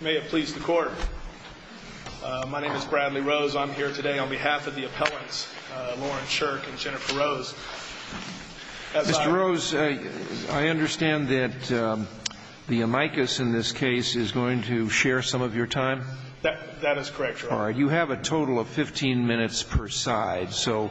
May it please the Court. My name is Bradley Rose. I'm here today on behalf of the appellants Lauren Shirk and Jennifer Rose. Mr. Rose, I understand that the amicus in this case is going to share some of your time? All right. You have a total of 15 minutes per side. So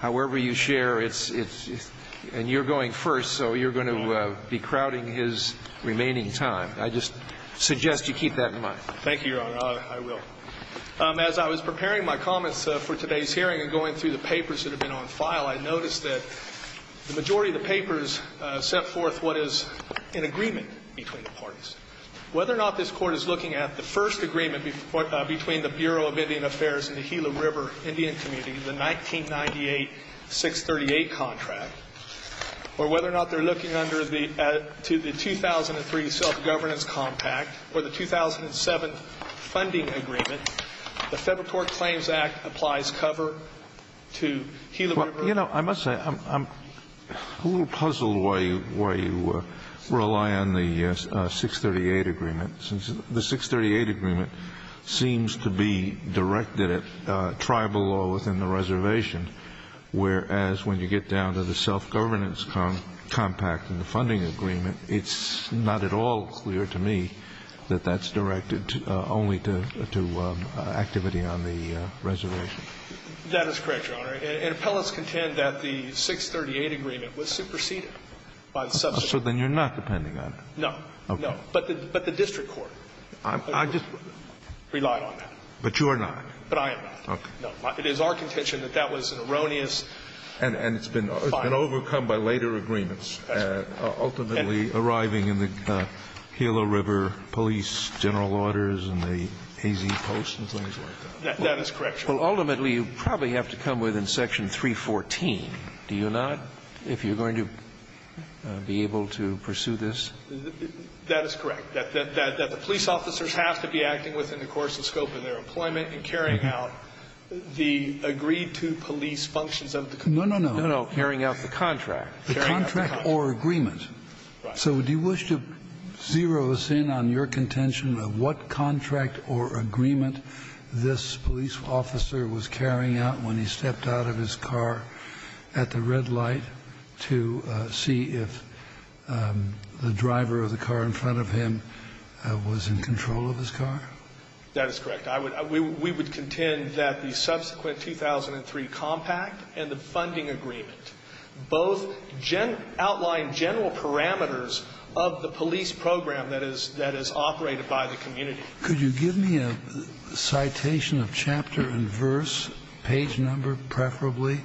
however you share, it's – and you're going first, so you're going to be crowding his remaining time. I just suggest you keep that in mind. Thank you, Your Honor. I will. As I was preparing my comments for today's hearing and going through the papers that have been on file, I noticed that the majority of the papers set forth what is an agreement between the parties. Whether or not this Court is looking at the first agreement between the Bureau of Indian Affairs and the Gila River Indian Community, the 1998 638 contract, or whether or not they're looking under the – to the 2003 self-governance compact or the 2007 funding agreement, the Federal Tort Claims Act applies cover to Gila River. You know, I must say, I'm a little puzzled why you – why you rely on the 638 agreement, since the 638 agreement seems to be directed at tribal law within the reservation, whereas when you get down to the self-governance compact and the funding agreement, it's not at all clear to me that that's directed only to activity on the reservation. That is correct, Your Honor. And appellants contend that the 638 agreement was superseded by the substitute. So then you're not depending on it. No. Okay. No. But the district court relied on that. But you are not? But I am not. Okay. No. It is our contention that that was an erroneous – And it's been overcome by later agreements, ultimately arriving in the Gila River police general orders and the A.Z. Post and things like that. That is correct, Your Honor. Well, ultimately, you probably have to come within section 314, do you not, if you're going to be able to pursue this? That is correct, that the police officers have to be acting within the course and scope of their employment and carrying out the agreed-to police functions of the contract. No, no, no. No, no, carrying out the contract. The contract or agreement. Right. So do you wish to zero us in on your contention of what contract or agreement this police officer was carrying out when he stepped out of his car at the red light to see if the driver of the car in front of him was in control of his car? That is correct. We would contend that the subsequent 2003 compact and the funding agreement both outline general parameters of the police program that is operated by the community. Could you give me a citation of chapter and verse, page number preferably,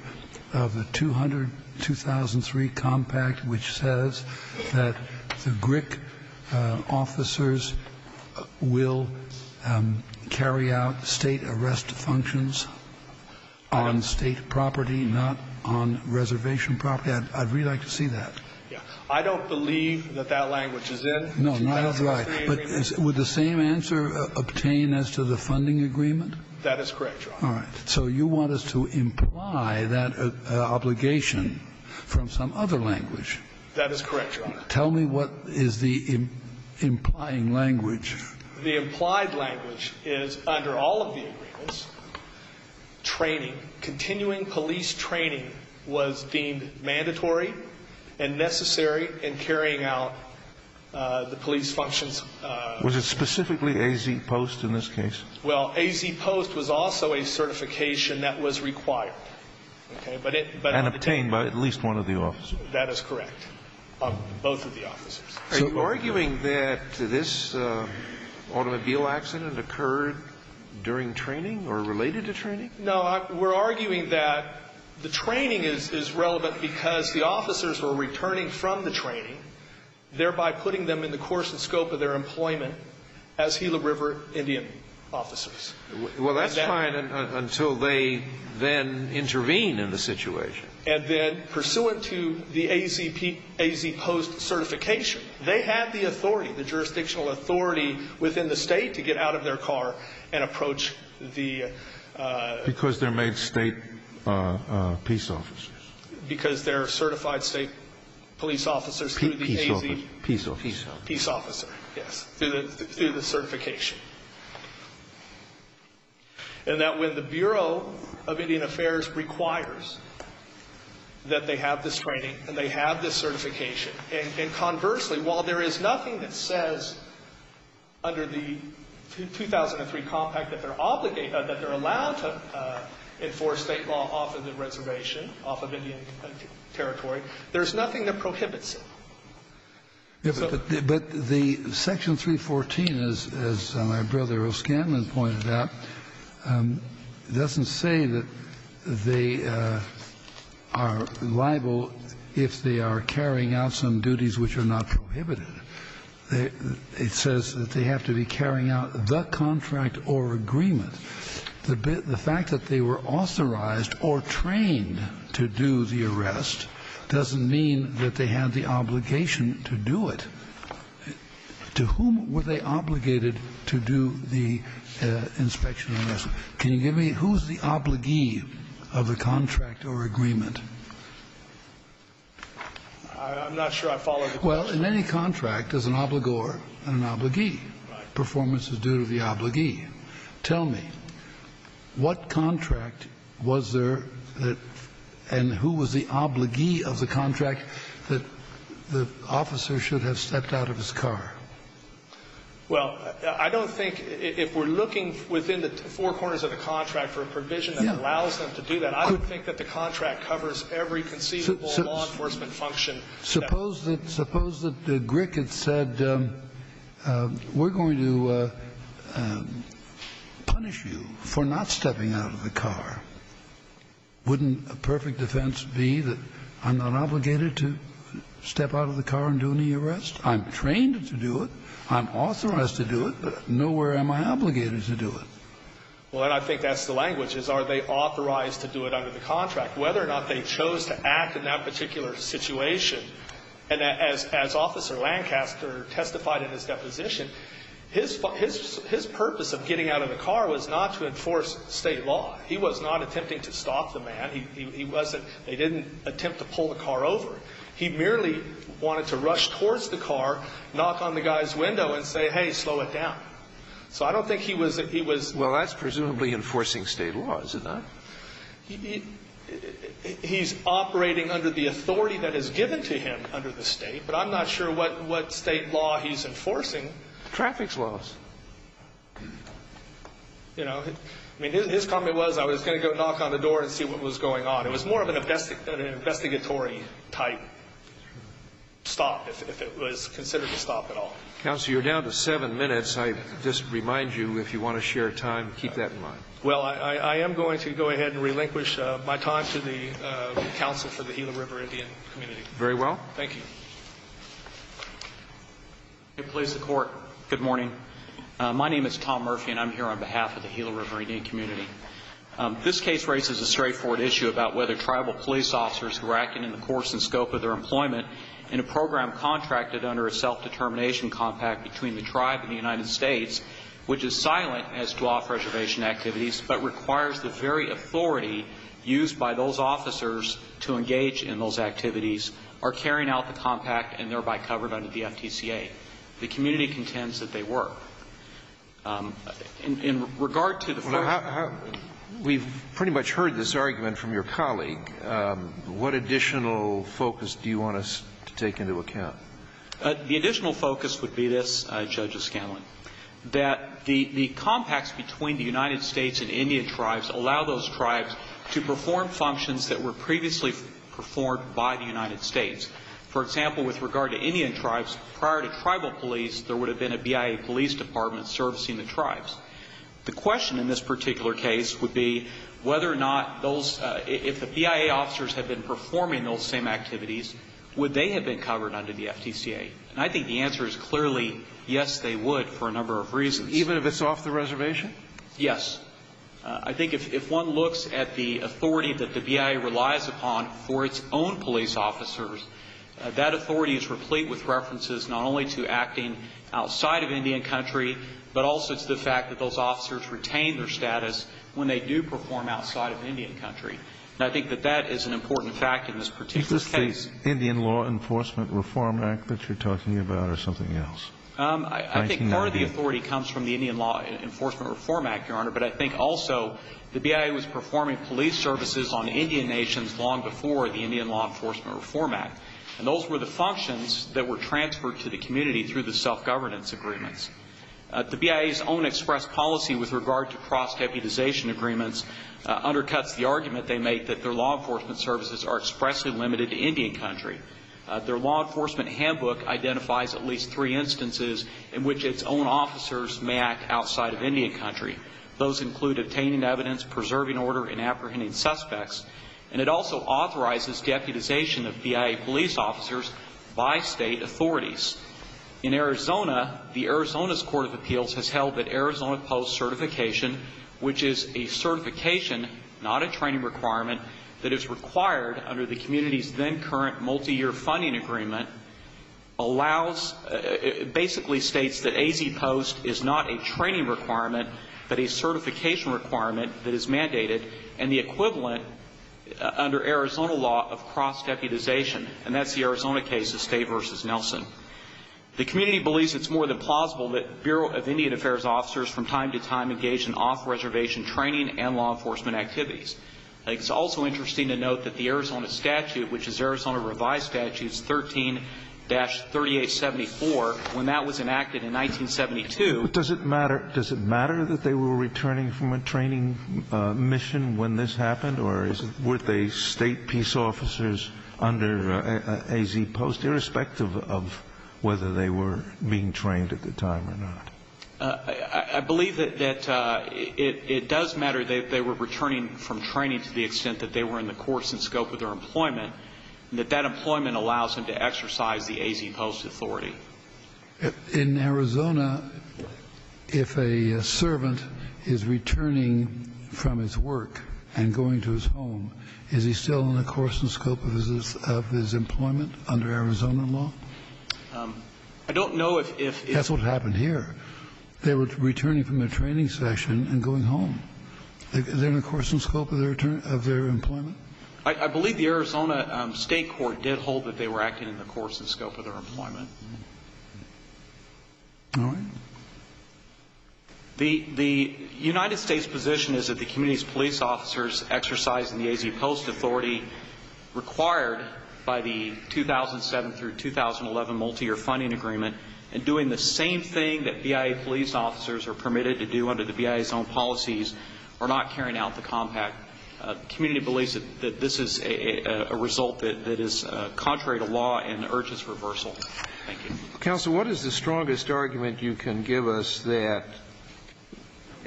of the 200-2003 compact which says that the GRIC officers will carry out State arrest functions on State property, not on reservation property? I'd really like to see that. Yeah. I don't believe that that language is in. No, neither do I. But would the same answer obtain as to the funding agreement? That is correct, Your Honor. All right. So you want us to imply that obligation from some other language. That is correct, Your Honor. Tell me what is the implying language. The implied language is under all of the agreements, training, continuing police training was deemed mandatory and necessary in carrying out the police functions. Was it specifically A.Z. Post in this case? Well, A.Z. Post was also a certification that was required. And obtained by at least one of the officers. That is correct, both of the officers. Are you arguing that this automobile accident occurred during training or related to training? No, we're arguing that the training is relevant because the officers were returning from the training, thereby putting them in the course and scope of their employment as Gila River Indian officers. Well, that's fine until they then intervene in the situation. And then pursuant to the A.Z. Post certification, they had the authority, the jurisdictional authority within the state to get out of their car and approach the Because they're made state peace officers. Because they're certified state police officers through the A.Z. Peace officer. Peace officer, yes, through the certification. And that when the Bureau of Indian Affairs requires that they have this training and they have this certification. And conversely, while there is nothing that says under the 2003 compact that they're obligated, that they're allowed to enforce state law off of the reservation, off of Indian territory, there's nothing that prohibits it. But the Section 314, as my brother O'Scanlan pointed out, doesn't say that they are liable if they are carrying out some duties which are not prohibited. It says that they have to be carrying out the contract or agreement. The fact that they were authorized or trained to do the arrest doesn't mean that they had the obligation to do it. To whom were they obligated to do the inspection and arrest? Can you give me who's the obligee of the contract or agreement? I'm not sure I follow the question. Well, in any contract, there's an obligor and an obligee. Right. Performance is due to the obligee. Tell me, what contract was there that and who was the obligee of the contract that the officer should have stepped out of his car? Well, I don't think, if we're looking within the four corners of the contract for a provision that allows them to do that, I don't think that the contract covers every conceivable law enforcement function. Suppose that Grick had said, we're going to punish you for not stepping out of the car, wouldn't a perfect defense be that I'm not obligated to step out of the car and do any arrest? I'm trained to do it. I'm authorized to do it. Nowhere am I obligated to do it. Well, and I think that's the language, is are they authorized to do it under the contract, whether or not they chose to act in that particular situation. And as Officer Lancaster testified in his deposition, his purpose of getting out of the car was not to enforce State law. He was not attempting to stop the man. He wasn't they didn't attempt to pull the car over. He merely wanted to rush towards the car, knock on the guy's window and say, hey, slow it down. So I don't think he was he was Well, that's presumably enforcing State law, is it not? He's operating under the authority that is given to him under the State. But I'm not sure what State law he's enforcing. Traffic laws. You know, I mean, his comment was I was going to go knock on the door and see what was going on. It was more of an investigatory type stop, if it was considered a stop at all. Counsel, you're down to seven minutes. I just remind you, if you want to share time, keep that in mind. Well, I am going to go ahead and relinquish my time to the counsel for the Gila River Indian community. Very well. Thank you. Please support. Good morning. My name is Tom Murphy, and I'm here on behalf of the Gila River Indian community. This case raises a straightforward issue about whether tribal police officers who are acting in the course and scope of their employment in a program contracted under a self-determination compact between the tribe and the United States, which is silent as to all preservation activities, but requires the very authority used by those officers to engage in those activities, are carrying out the compact and thereby covered under the FTCA. The community contends that they were. In regard to the first We've pretty much heard this argument from your colleague. What additional focus do you want us to take into account? The additional focus would be this, Judge Escanlan, that the compacts between the United States and Indian tribes allow those tribes to perform functions that were previously performed by the United States. For example, with regard to Indian tribes, prior to tribal police, there would have been a BIA police department servicing the tribes. The question in this particular case would be whether or not those, if the BIA officers had been performing those same activities, would they have been covered under the FTCA? And I think the answer is clearly, yes, they would for a number of reasons. Even if it's off the reservation? Yes. I think if one looks at the authority that the BIA relies upon for its own police officers, that authority is replete with references not only to acting outside of Indian country, but also to the fact that those officers retain their status when they do perform outside of Indian country. And I think that that is an important fact in this particular case. Is this the Indian Law Enforcement Reform Act that you're talking about or something else? I think part of the authority comes from the Indian Law Enforcement Reform Act, Your Honor, but I think also the BIA was performing police services on Indian nations long before the Indian Law Enforcement Reform Act. And those were the functions that were transferred to the community through the self-governance agreements. The BIA's own express policy with regard to cross-deputization agreements undercuts the argument they make that their law enforcement services are expressly limited to Indian country. Their law enforcement handbook identifies at least three instances in which its own officers may act outside of Indian country. Those include obtaining evidence, preserving order, and apprehending suspects. And it also authorizes deputization of BIA police officers by state authorities. In Arizona, the Arizona's Court of Appeals has held that Arizona Post certification, which is a certification, not a training requirement, that is required under the community's then-current multi-year funding agreement, allows, basically states that AZ Post is not a training requirement but a certification requirement that is mandated and the equivalent under Arizona law of cross-deputization. And that's the Arizona case of Stay versus Nelson. The community believes it's more than plausible that Bureau of Indian Affairs officers from time to time engage in off-reservation training and law enforcement activities. It's also interesting to note that the Arizona statute, which is Arizona Revised Statutes 13-3874, when that was enacted in 1972. Kennedy. But does it matter? Does it matter that they were returning from a training mission when this happened or were they state peace officers under AZ Post, irrespective of whether they were being trained at the time or not? I believe that it does matter that they were returning from training to the extent that they were in the course and scope of their employment and that that employment allows them to exercise the AZ Post authority. In Arizona, if a servant is returning from his work and going to his home, is he still in the course and scope of his employment under Arizona law? I don't know if it's the case. That's what happened here. They were returning from a training session and going home. They're in the course and scope of their employment? I believe the Arizona State Court did hold that they were acting in the course and scope of their employment. All right. The United States position is that the community's police officers exercising the AZ Post authority required by the 2007 through 2011 multiyear funding agreement and doing the same thing that BIA police officers are permitted to do under the BIA's own policies are not carrying out the compact. The community believes that this is a result that is contrary to law and urges reversal. Thank you. Counsel, what is the strongest argument you can give us that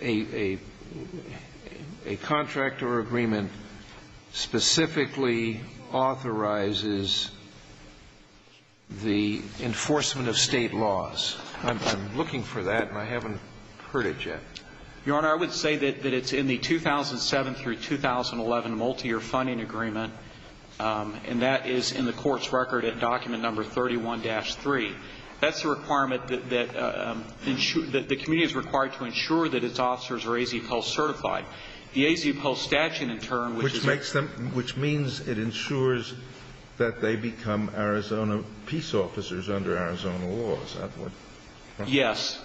a contract or agreement specifically authorizes the enforcement of State laws? I'm looking for that, and I haven't heard it yet. Your Honor, I would say that it's in the 2007 through 2011 multiyear funding agreement, and that is in the court's record at document number 31-3. That's a requirement that the community is required to ensure that its officers are AZ Post certified. The AZ Post statute, in turn, which makes them Which means it ensures that they become Arizona peace officers under Arizona laws. Yes.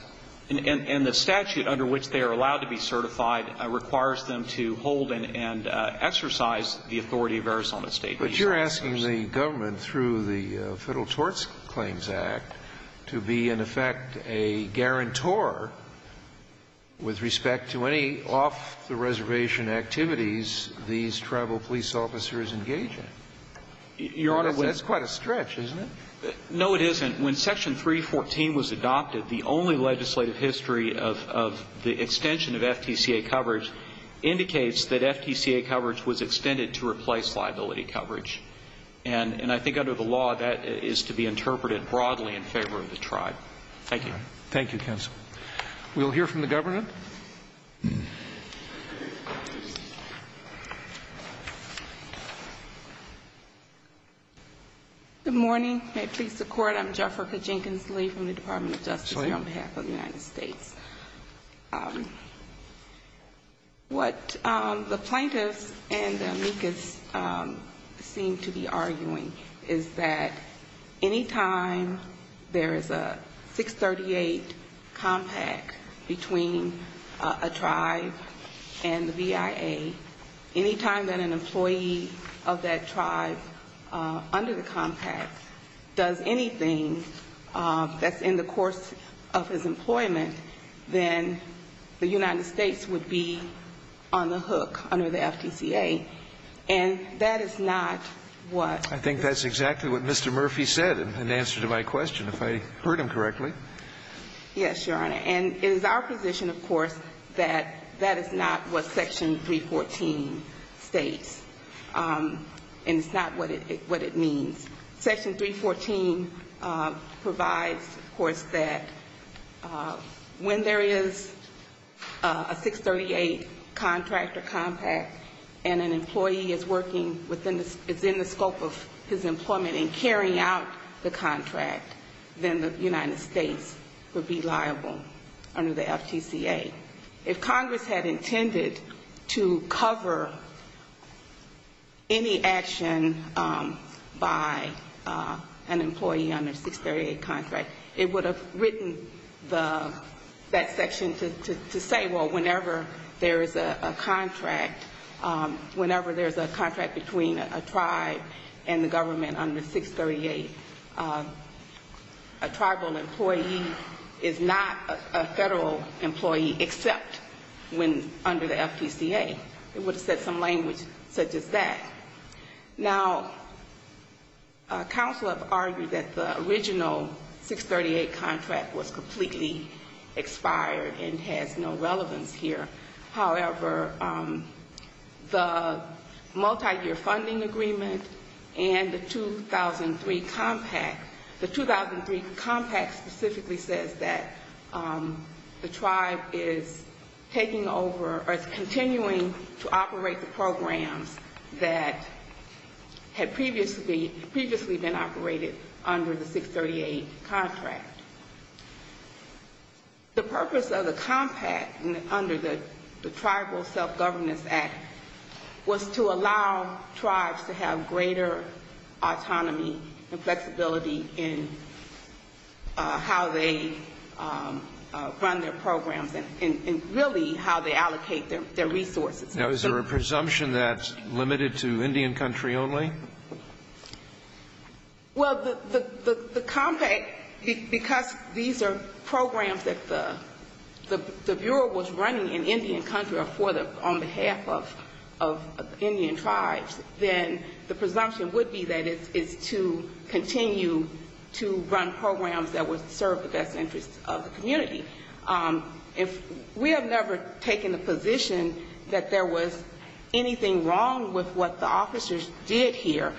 And the statute under which they are allowed to be certified requires them to hold and exercise the authority of Arizona state peace officers. But you're asking the government through the Federal Tort Claims Act to be, in effect, a guarantor with respect to any off-the-reservation activities these tribal police officers engage in. Your Honor, we That's quite a stretch, isn't it? No, it isn't. When Section 314 was adopted, the only legislative history of the extension of FTCA coverage indicates that FTCA coverage was extended to replace liability coverage. And I think under the law, that is to be interpreted broadly in favor of the tribe. Thank you. Thank you, counsel. We'll hear from the governor. Good morning. May it please the Court. I'm Jefferica Jenkins-Lee from the Department of Justice here on behalf of the United States. What the plaintiffs and the amicus seem to be arguing is that any time there is a 638 compact between a tribe and the VIA, any time that an employee of that tribe under the compact does anything that's in the course of his employment, then the United States would be on the hook under the FTCA. And that is not what I think that's exactly what Mr. Murphy said in answer to my question, if I heard him correctly. Yes, Your Honor. And it is our position, of course, that that is not what Section 314 states. And it's not what it means. Section 314 provides, of course, that when there is a 638 contract or compact and an employee is working within the scope of his employment and carrying out the contract, then the United States would be liable under the FTCA. If Congress had intended to cover any action by an employee under a 638 contract, it would have written that section to say, well, whenever there is a contract, whenever there is a contract between a tribe and the government under 638, a tribal employee is not a Federal employee except when under the FTCA. It would have said some language such as that. Now, counsel have argued that the original 638 contract was completely expired and has no relevance here. However, the multiyear funding agreement and the 2003 compact, the 2003 compact specifically says that the tribe is taking over or is continuing to operate the programs that had previously been operated under the 638 contract. The purpose of the compact under the Tribal Self-Governance Act was to allow tribes to have greater autonomy and flexibility in how they run their programs and really how they allocate their resources. Now, is there a presumption that's limited to Indian country only? Well, the compact, because these are programs that the Bureau was running in Indian country or on behalf of Indian tribes, then the presumption would be that it's to continue to run programs that would serve the best interests of the community. We have never taken the position that there was anything wrong with what the officers did here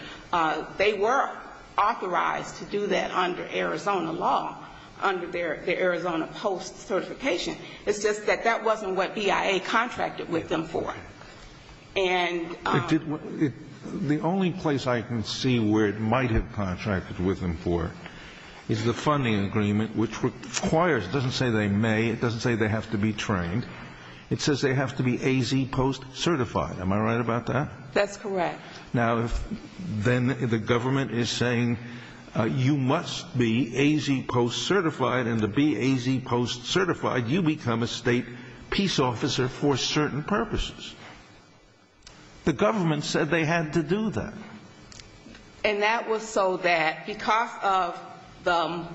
They were authorized to do that under Arizona law, under their Arizona post certification. It's just that that wasn't what BIA contracted with them for. And the only place I can see where it might have contracted with them for is the funding agreement, which requires, it doesn't say they may, it doesn't say they have to be trained, it says they have to be AZ post certified. Am I right about that? That's correct. Now, then the government is saying you must be AZ post certified, and to be AZ post certified you become a state peace officer for certain purposes. The government said they had to do that. And that was so that because of the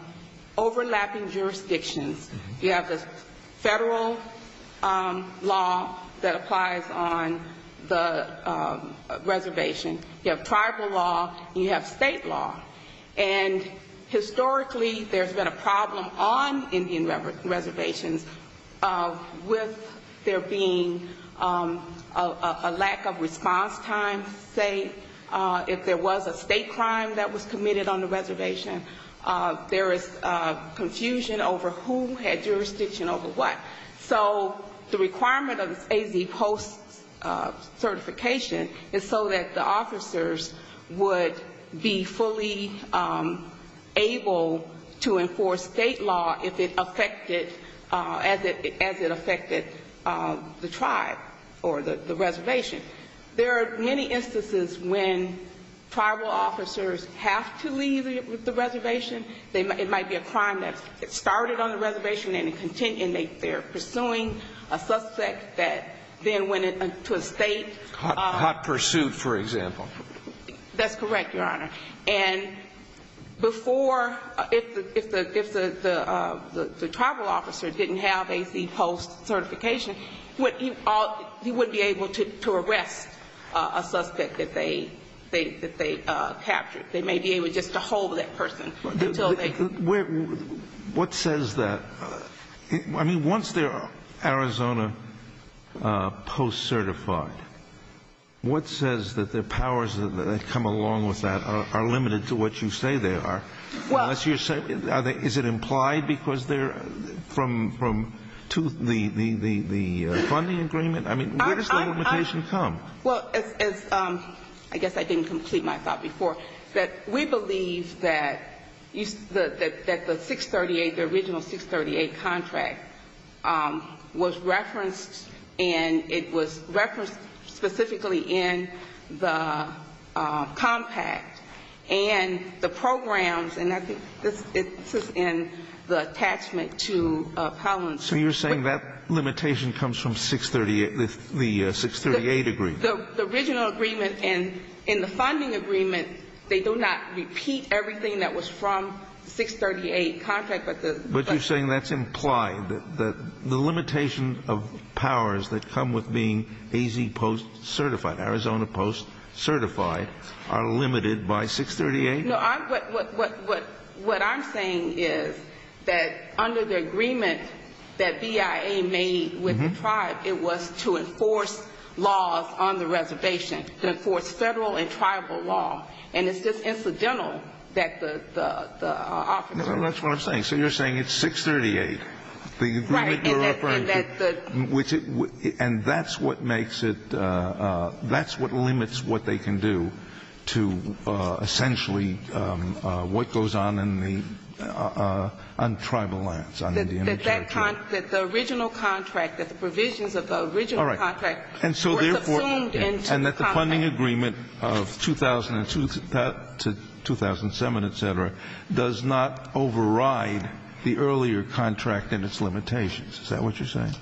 overlapping jurisdictions, you have the federal law that applies on the reservation. You have tribal law. You have state law. And historically there's been a problem on Indian reservations with there being a lack of response time, say if there was a state crime that was committed on the reservation. There is confusion over who had jurisdiction over what. So the requirement of the AZ post certification is so that the officers would be fully able to enforce state law if it affected, as it affected the tribe or the reservation. There are many instances when tribal officers have to leave the reservation. It might be a crime that started on the reservation and they're pursuing a suspect that then went to a state. Hot pursuit, for example. That's correct, Your Honor. And before, if the tribal officer didn't have AZ post certification, he wouldn't be able to arrest a suspect that they captured. They may be able just to hold that person until they. What says that? I mean, once they're Arizona post certified, what says that their powers that come along with that are limited to what you say they are? Is it implied because they're from the funding agreement? I mean, where does the limitation come? Well, as I guess I didn't complete my thought before, that we believe that the 638, the original 638 contract was referenced and it was referenced specifically in the compact. And the programs, and I think this is in the attachment to Collins. So you're saying that limitation comes from 638, the 638 agreement? The original agreement and in the funding agreement, they do not repeat everything that was from 638 contract. But you're saying that's implied, that the limitation of powers that come with being AZ post certified, Arizona post certified, are limited by 638? No, what I'm saying is that under the agreement that BIA made with the tribe, it was to enforce laws on the reservation, to enforce federal and tribal law. And it's just incidental that the officer. That's what I'm saying. So you're saying it's 638, the agreement you're referring to. And that's what makes it, that's what limits what they can do to essentially what goes on in the, on tribal lands. That the original contract, that the provisions of the original contract. All right. And that the funding agreement of 2002 to 2007, et cetera, does not override the earlier contract and its limitations. Is that what you're saying?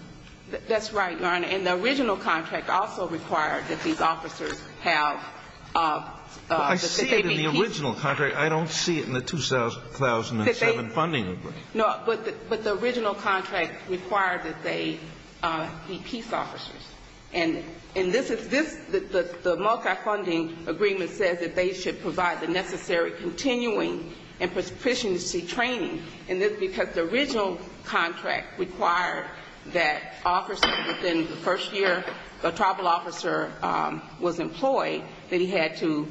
That's right, Your Honor. And the original contract also required that these officers have. Well, I see it in the original contract. I don't see it in the 2007 funding agreement. No, but the original contract required that they be peace officers. And this, the multi-funding agreement says that they should provide the necessary continuing and prosperity training. And this is because the original contract required that officers within the first year, the tribal officer was employed, that he had to,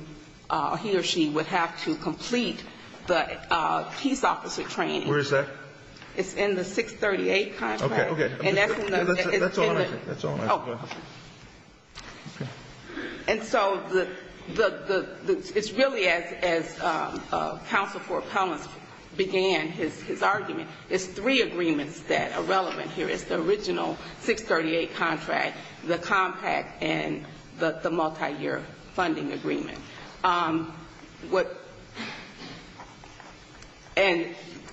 he or she would have to complete the peace officer training. Where is that? It's in the 638 contract. Okay, okay. And that's in the. That's all I have. Oh. Okay. And so it's really as counsel for appellants began his argument. It's three agreements that are relevant here. It's the original 638 contract, the compact, and the multi-year funding agreement.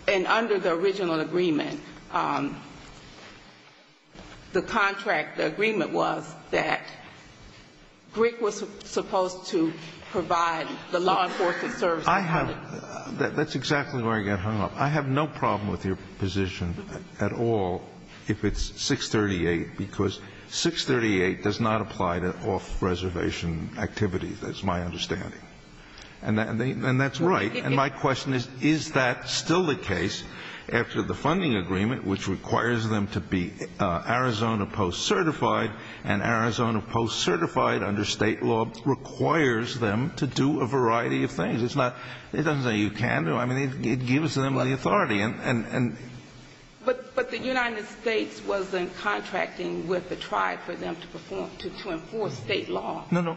And under the original agreement, the contract, the agreement was that Grigg was supposed to provide the law enforcement services. I have. That's exactly where I get hung up. I have no problem with your position at all if it's 638, because 638 does not apply to off-reservation activities, that's my understanding. And that's right. And my question is, is that still the case after the funding agreement, which requires them to be Arizona post-certified, and Arizona post-certified under state law requires them to do a variety of things? It's not, it doesn't say you can't do it. I mean, it gives them the authority. But the United States was contracting with the tribe for them to perform, to enforce state law. No, no.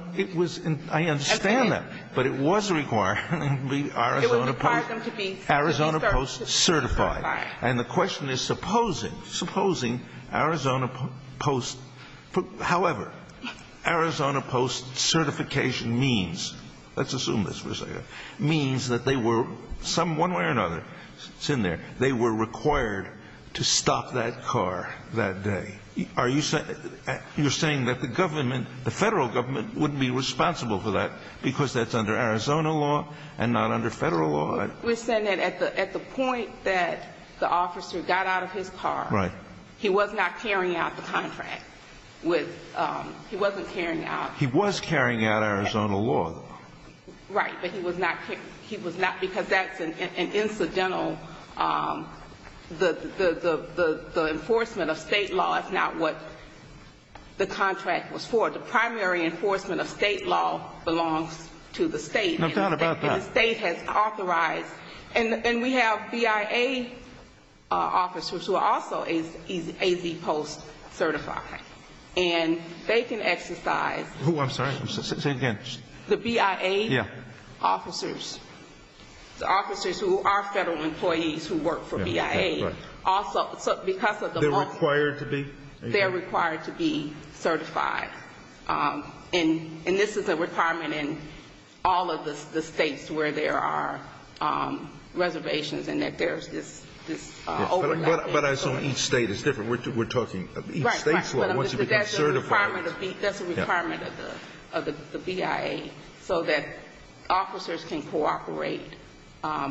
I understand that. But it was required to be Arizona post-certified. And the question is supposing, supposing Arizona post-however, Arizona post-certification means, let's assume this for a second, means that they were, one way or another, it's in there, they were required to stop that car that day. Are you saying, you're saying that the government, the federal government wouldn't be responsible for that because that's under Arizona law and not under federal law? We're saying that at the point that the officer got out of his car, he was not carrying out the contract. He wasn't carrying out. He was carrying out Arizona law. Right. Because that's an incidental, the enforcement of state law is not what the contract was for. The primary enforcement of state law belongs to the state. I've thought about that. And the state has authorized. And we have BIA officers who are also AZ post-certified. And they can exercise. I'm sorry. Say it again. The BIA. Yeah. Officers. Officers who are federal employees who work for BIA. Right. Also, because of the money. They're required to be? They're required to be certified. And this is a requirement in all of the states where there are reservations and that there's this overlap. But I assume each state is different. We're talking each state's law. Right, right. Once you become certified. That's a requirement of the BIA so that officers can cooperate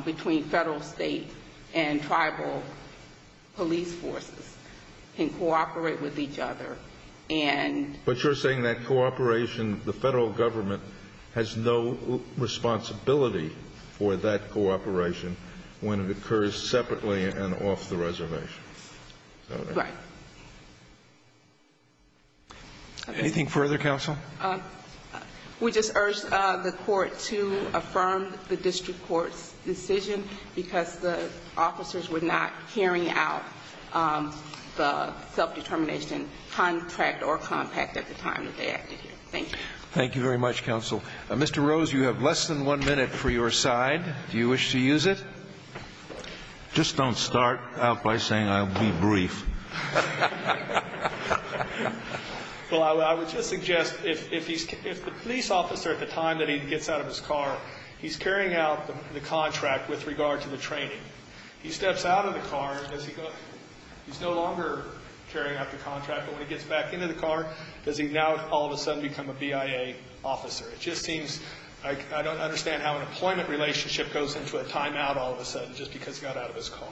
between federal, state, and tribal police forces. Can cooperate with each other. But you're saying that cooperation, the federal government has no responsibility for that cooperation when it occurs separately and off the reservation. Right. Anything further, counsel? We just urged the court to affirm the district court's decision. Because the officers were not carrying out the self-determination contract or compact at the time that they acted here. Thank you. Thank you very much, counsel. Mr. Rose, you have less than one minute for your side. Do you wish to use it? Just don't start out by saying I'll be brief. Well, I would just suggest if the police officer at the time that he gets out of his car, he's carrying out the contract with regard to the training. He steps out of the car. He's no longer carrying out the contract. But when he gets back into the car, does he now all of a sudden become a BIA officer? It just seems like I don't understand how an employment relationship goes into a timeout all of a sudden just because he got out of his car.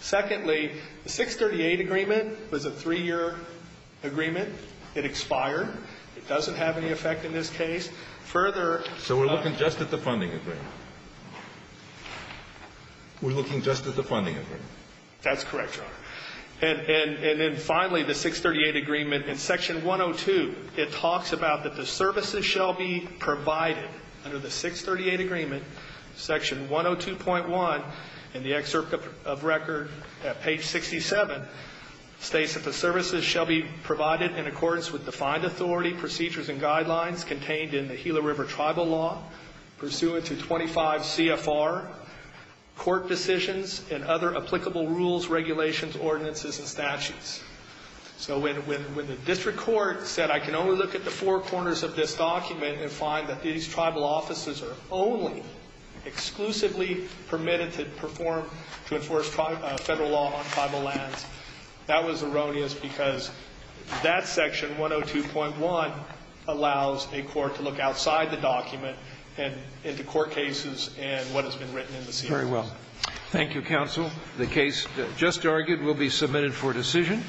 Secondly, the 638 agreement was a three-year agreement. It expired. It doesn't have any effect in this case. Further ---- So we're looking just at the funding agreement. We're looking just at the funding agreement. That's correct, Your Honor. And then finally, the 638 agreement, in section 102, it talks about that the services shall be provided. Under the 638 agreement, section 102.1 in the excerpt of record, page 67, states that the services shall be provided in accordance with defined authority, procedures, and guidelines contained in the Gila River Tribal Law pursuant to 25 CFR, court decisions, and other applicable rules, regulations, ordinances, and statutes. So when the district court said I can only look at the four corners of this document and find that these tribal offices are only exclusively permitted to perform, to enforce federal law on tribal lands, that was erroneous because that section, 102.1, allows a court to look outside the document and into court cases and what has been written in the CFR. Very well. Thank you, counsel. The case just argued will be submitted for decision.